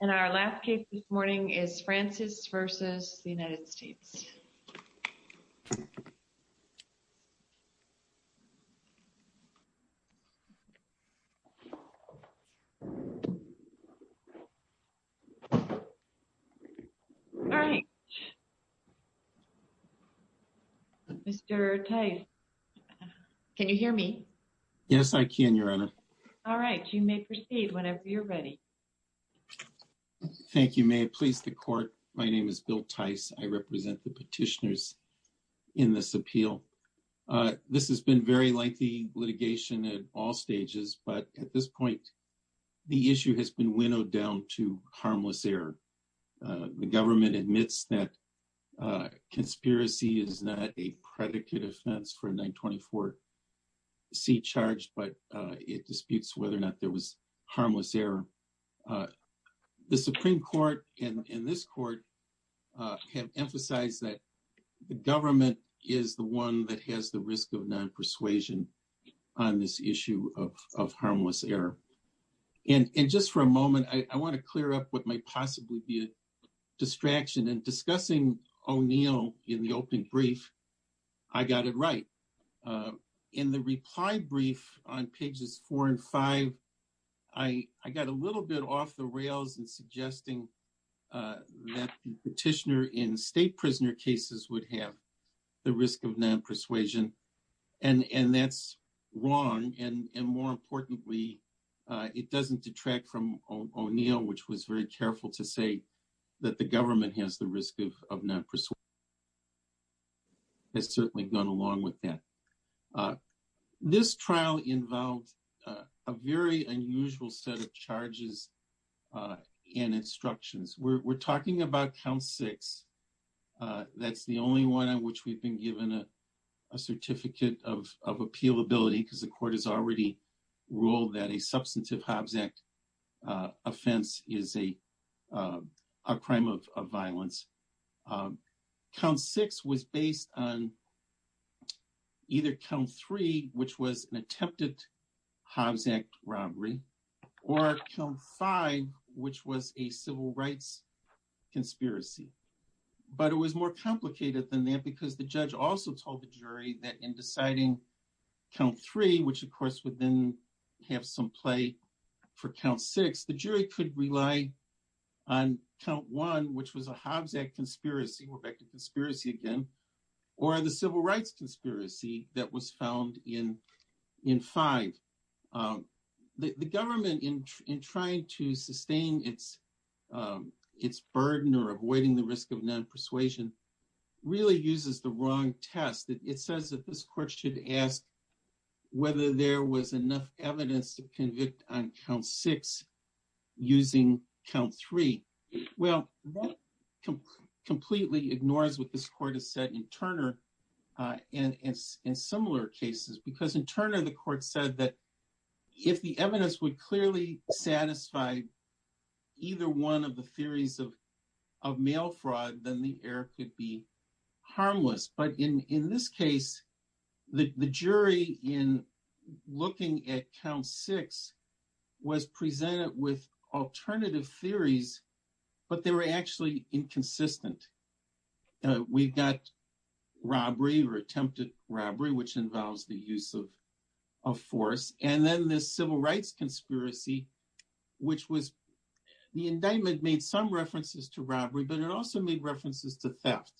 And our last case this morning is Francis versus the United States. All right. Mr. Can you hear me? Yes, I can your honor. All right, you may proceed whenever you're ready. Thank you. May it please the court. My name is Bill Tice. I represent the petitioners in this appeal. This has been very lengthy litigation at all stages. But at this point the issue has been winnowed down to harmless error. The government admits that conspiracy is not a predicate offense for 924 C charged, but it disputes whether or not there was harmless error. The Supreme Court and in this court have emphasized that the government is the one that has the risk of non-persuasion on this issue of harmless error. And just for a moment. I want to clear up what might possibly be a distraction and discussing O'Neill in the opening brief. I got it right in the reply brief on pages 4 and 5. I got a little bit off the rails and suggesting that petitioner in state prisoner cases would have the risk of non-persuasion and that's wrong. And more importantly, it doesn't detract from O'Neill, which was very careful to say that the government has the risk of non-persuasion. It's certainly gone along with that. This trial involved a very unusual set of charges and instructions. We're talking about count six. That's the only one on which we've been given a certificate of appeal ability because the court has already ruled that a substantive Hobbs Act offense is a crime of violence. Count six was based on either count three, which was an attempted Hobbs Act robbery or count five, which was a civil rights conspiracy. But it was more complicated than that because the judge also told the jury that in deciding count three, which of course would then have some play for count six, the jury could rely on count one, which was a Hobbs Act conspiracy. We're back to conspiracy again, or the civil rights conspiracy that was found in five. The government, in trying to sustain its burden or avoiding the risk of non-persuasion, really uses the wrong test. It says that this court should ask whether there was enough evidence to convict on count six using count three. Well, that completely ignores what this court has said in Turner and in similar cases because in Turner, the court said that if the evidence would clearly satisfy either one of the theories of mail fraud, then the error could be harmless. But in this case, the jury in looking at count six was presented with alternative theories, but they were actually inconsistent. We've got robbery or attempted robbery, which involves the use of force. And then this civil rights conspiracy, which was the indictment made some references to robbery, but it also made references to theft,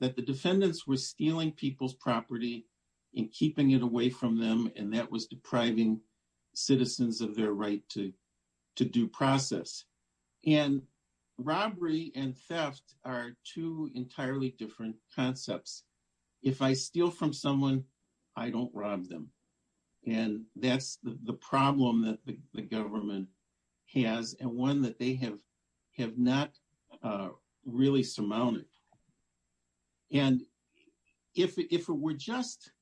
that the defendants were stealing people's property and keeping it away from them. And that was depriving citizens of their right to due process. And robbery and theft are two entirely different concepts. If I steal from someone, I don't rob them. And that's the problem that the government has, and one that they have not really surmounted. And if it were just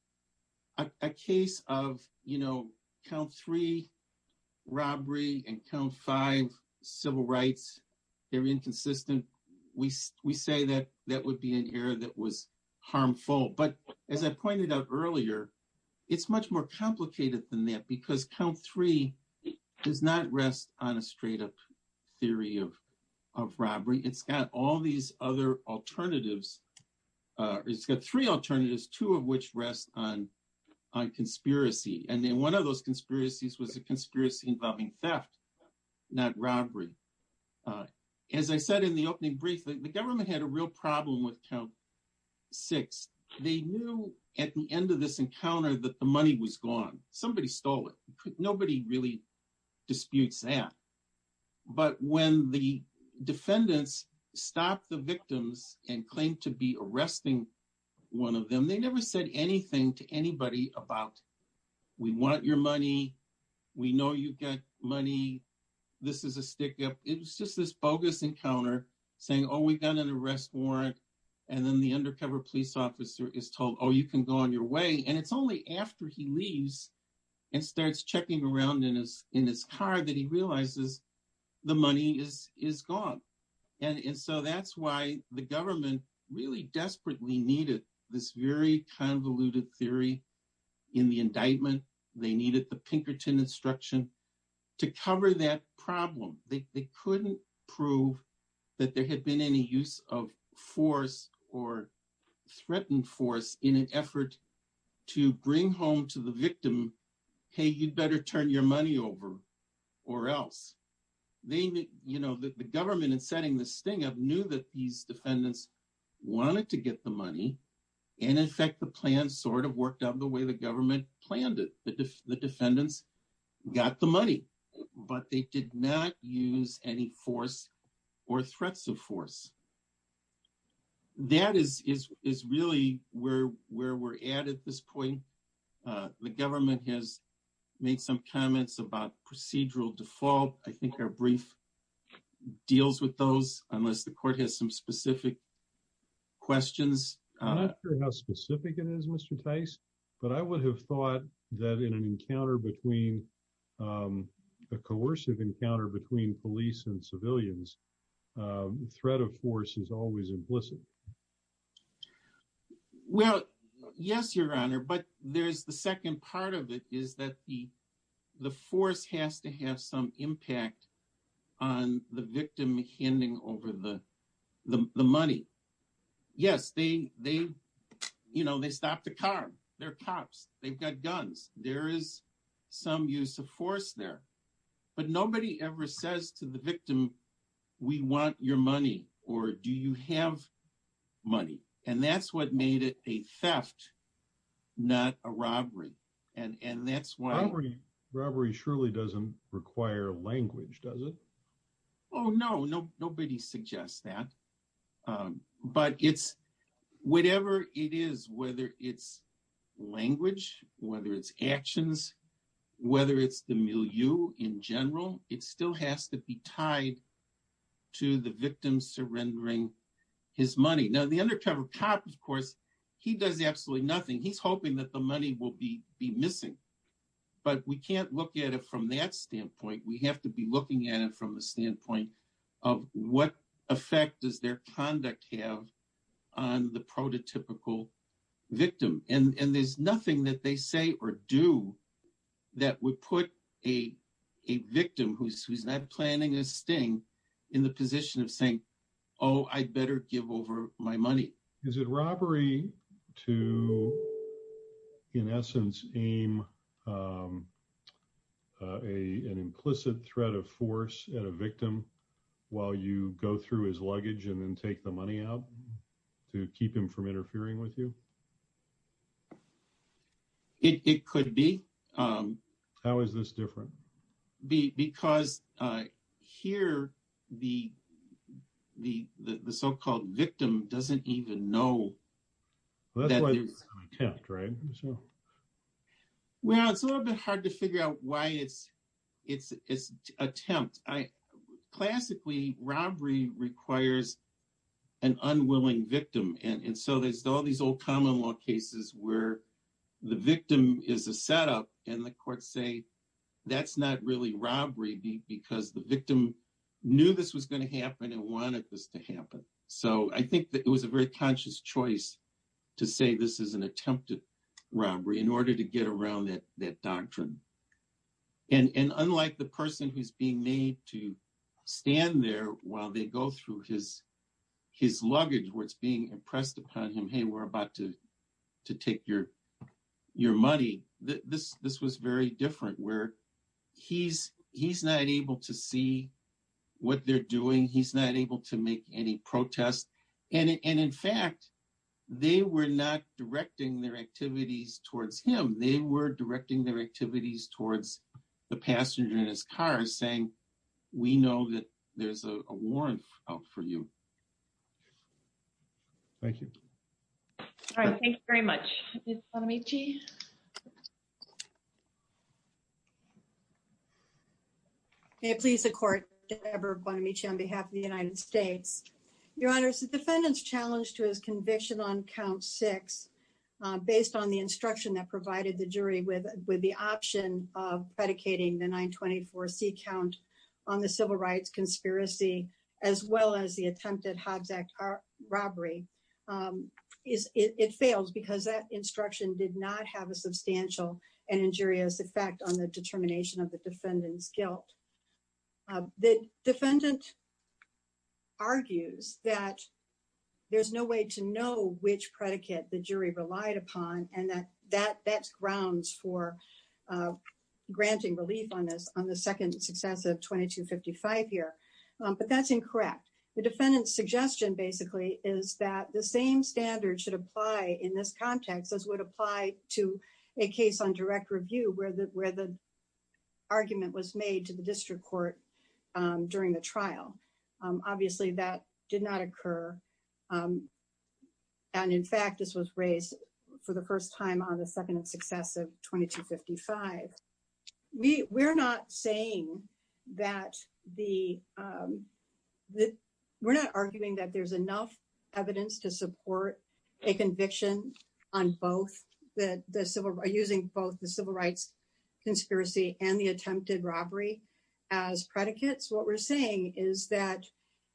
a case of, you know, count three robbery and count five civil rights, they're inconsistent. We say that that would be an error that was harmful. But as I pointed out earlier, it's much more complicated than that because count three does not rest on a straight up theory of robbery. It's got all these other alternatives. It's got three alternatives, two of which rest on conspiracy. And then one of those conspiracies was a conspiracy involving theft, not robbery. As I said in the opening brief, the government had a real problem with count six. They knew at the end of this encounter that the money was gone. Somebody stole it. Nobody really disputes that. But when the defendants stopped the victims and claimed to be arresting one of them, they never said anything to anybody about we want your money. We know you get money. This is a stick up. It was just this bogus encounter saying, oh, we got an arrest warrant. And then the undercover police officer is told, oh, you can go on your way. And it's only after he leaves and starts checking around in his car that he realizes the money is gone. And so that's why the government really desperately needed this very convoluted theory in the indictment. They needed the Pinkerton instruction to cover that problem. They couldn't prove that there had been any use of force or threatened force in an effort to bring home to the victim. Hey, you'd better turn your money over or else. The government in setting this thing up knew that these defendants wanted to get the money. And in fact, the plan sort of worked out the way the government planned it. The defendants got the money, but they did not use any force or threats of force. That is really where we're at at this point. The government has made some comments about procedural default. I think our brief deals with those unless the court has some specific questions. I'm not sure how specific it is, Mr. Tice, but I would have thought that in an encounter between a coercive encounter between police and civilians, threat of force is always implicit. Well, yes, your Honor. But there's the second part of it is that the force has to have some impact on the victim handing over the money. Yes, they, you know, they stop the car. They're cops. They've got guns. There is some use of force there, but nobody ever says to the court, do you have money? And that's what made it a theft, not a robbery. And that's why robbery surely doesn't require language, does it? Oh, no, nobody suggests that. But it's whatever it is, whether it's language, whether it's actions, whether it's the milieu in general, it still has to be tied to the victim surrendering his money. Now, the undercover cop, of course, he does absolutely nothing. He's hoping that the money will be missing, but we can't look at it from that standpoint. We have to be looking at it from the standpoint of what effect does their conduct have on the prototypical victim? And there's nothing that they say or do that would put a victim who's not planning a sting in the position of saying, oh, I'd better give over my money. Is it robbery to, in essence, aim an implicit threat of force at a victim while you go through his luggage and then take the money out to keep him from interfering with you? It could be. How is this different? Because here the so-called victim doesn't even know. Well, it's a little bit hard to figure out why it's attempt. Classically, robbery requires an unwilling victim. And so there's all these old common law cases where the victim is a setup and the courts say that's not really robbery because the victim knew this was going to happen and wanted this to happen. So I think that it was a very conscious choice to say this is an attempted robbery in order to get around that doctrine. And unlike the person who's being made to stand there while they go through his luggage where it's being impressed upon him. Hey, we're about to take your money. This was very different where he's not able to see what they're doing. He's not able to make any protests. And in fact, they were not directing their activities towards him. They were directing their activities towards the passenger in his car saying, we know that there's a warrant out for you. Thank you. All right. Thank you very much. May it please the court, Deborah Bonamici on behalf of the United States. Your Honor, the defendant's challenged to his conviction on count six based on the instruction that provided the jury with with the option of predicating the 924 C count on the civil rights conspiracy as well as the attempted Hobbs Act robbery is it fails because that instruction did not have a substantial and injurious effect on the determination of the defendant's guilt. The defendant argues that there's no way to know which predicate the jury relied upon and that that that's grounds for granting relief on this on the second successive 2255 here, but that's incorrect. The defendant's suggestion basically is that the same standard should apply in this context as would apply to a case on direct review where the where the argument was made to the district court during the trial. Obviously that did not occur. And in fact, this was raised for the first time on the second successive 2255. We we're not saying that the we're not arguing that there's enough evidence to support a conviction on both that the civil are using both the civil rights conspiracy and the attempted robbery as predicates. What we're saying is that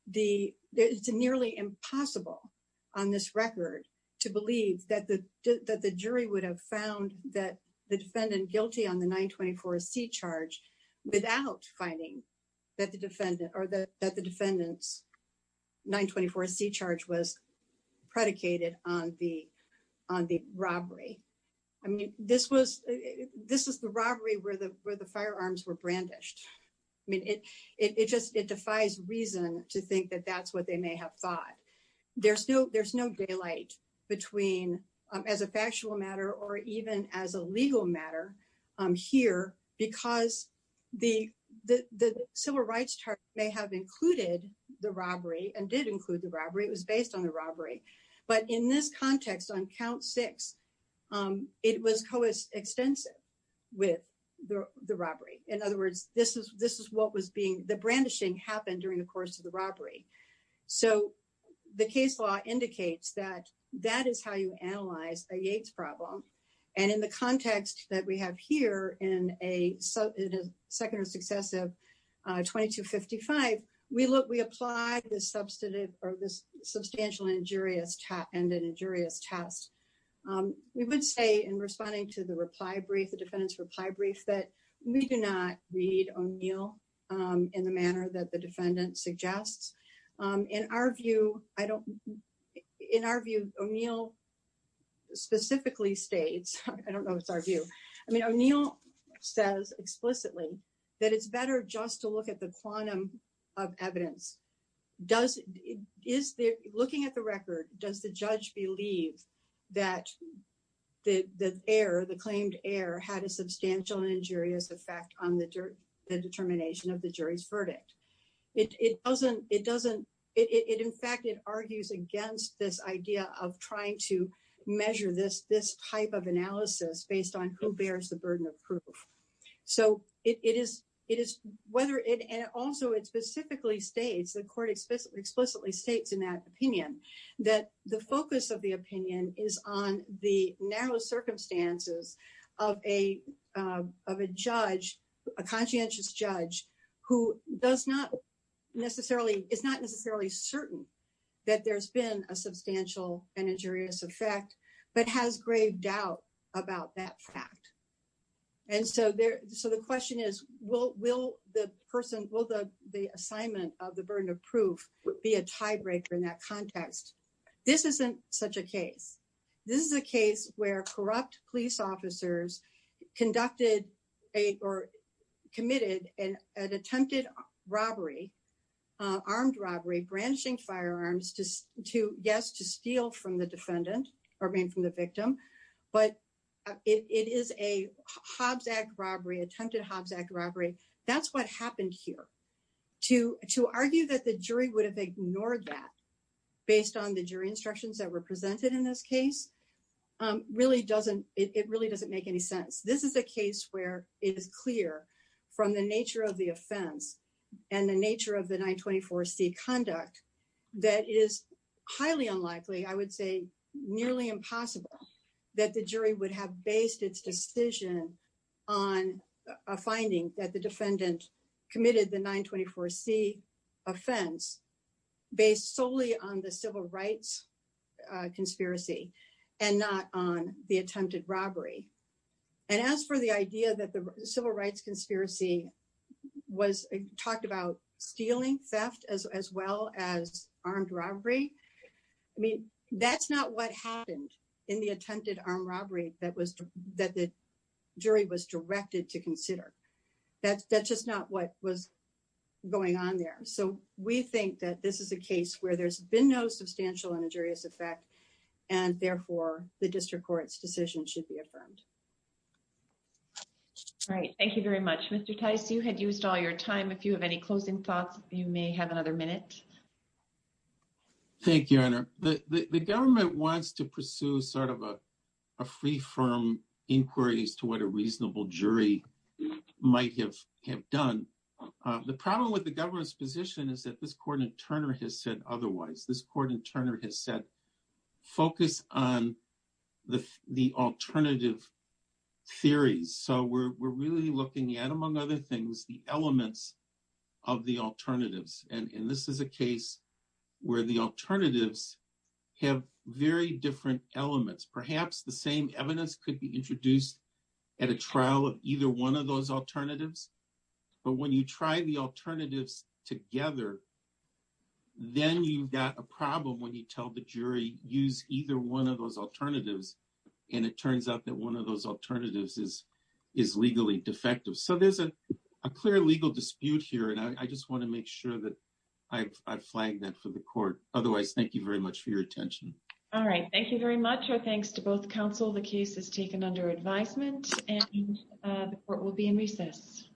the it's nearly impossible on this record to believe that the that the jury would have found that the defendant guilty on the 924 C charge without finding that the defendant or the that the defendant's 924 C charge was predicated on the on the robbery. I mean, this was this is the robbery where the where the firearms were brandished. I mean it it just it defies reason to think that that's what they may have thought there's no there's no daylight between as a factual matter or even as a legal matter here because the the civil rights charge may have included the robbery and did include the robbery was based on the robbery. But in this context on count six, it was Co is extensive with the robbery. In other words, this is this is what was being the brandishing happened during the course of the robbery. So the case law indicates that that is how you analyze a Yates problem. And in the context that we have here in a second successive 2255. We look we apply this substantive or this substantial injurious tap and an injurious test. We would say in responding to the reply brief the defendant's reply brief that we do not read O'Neill in the manner that the in our view. I don't in our view O'Neill specifically States. I don't know. It's our view. I mean O'Neill says explicitly that it's better just to look at the quantum of evidence does is there looking at the record does the judge believe that the air the claimed air had a substantial injurious effect on the dirt the determination of the jury's verdict. It doesn't it doesn't it in fact it argues against this idea of trying to measure this this type of analysis based on who bears the burden of proof. So it is it is whether it and also it specifically States the court explicitly states in that opinion that the focus of the opinion is on the narrow circumstances of a of a judge a so it's not necessarily it's not necessarily certain that there's been a substantial and injurious effect but has grave doubt about that fact and so there so the question is will will the person will the the assignment of the burden of proof be a tiebreaker in that context. This isn't such a case. This is a case where corrupt police officers conducted a or attempted robbery armed robbery branching firearms to to guess to steal from the defendant or being from the victim but it is a Hobbs Act robbery attempted Hobbs Act robbery. That's what happened here to to argue that the jury would have ignored that based on the jury instructions that were presented in this case really doesn't it really doesn't make any sense. This is a case where it is clear from the nature of the offense and the nature of the 924 C conduct that is highly unlikely. I would say nearly impossible that the jury would have based its decision on a finding that the defendant committed the 924 C offense based solely on the civil rights conspiracy and not on the attempted robbery and as for the idea that the civil rights conspiracy was talked about stealing theft as well as armed robbery. I mean, that's not what happened in the attempted armed robbery that was that the jury was directed to consider that's just not what was going on there. So we think that this is a case where there's been no substantial and injurious effect and therefore the district court's decision should be affirmed. All right. Thank you very much. Mr. Tice. You had used all your time. If you have any closing thoughts, you may have another minute. Thank you. Honor the government wants to pursue sort of a free-firm inquiries to what a reasonable jury might have have done the problem with the government's position is that this court in Turner has said otherwise this court in Turner has said focus on the alternative theories. So we're really looking at among other things the elements of the alternatives and in this is a case where the alternatives have very different elements. Perhaps the same evidence could be introduced at a trial of either one of those alternatives, but when you try the alternatives together. Then you've got a problem when you tell the jury use either one of those alternatives and it turns out that one of those alternatives is is legally defective. So there's a clear legal dispute here. And I just want to make sure that I flagged that for the court. Otherwise, thank you very much for your attention. All right. Thank you very much. Our thanks to both counsel. The case is taken under advisement and the court will be in recess.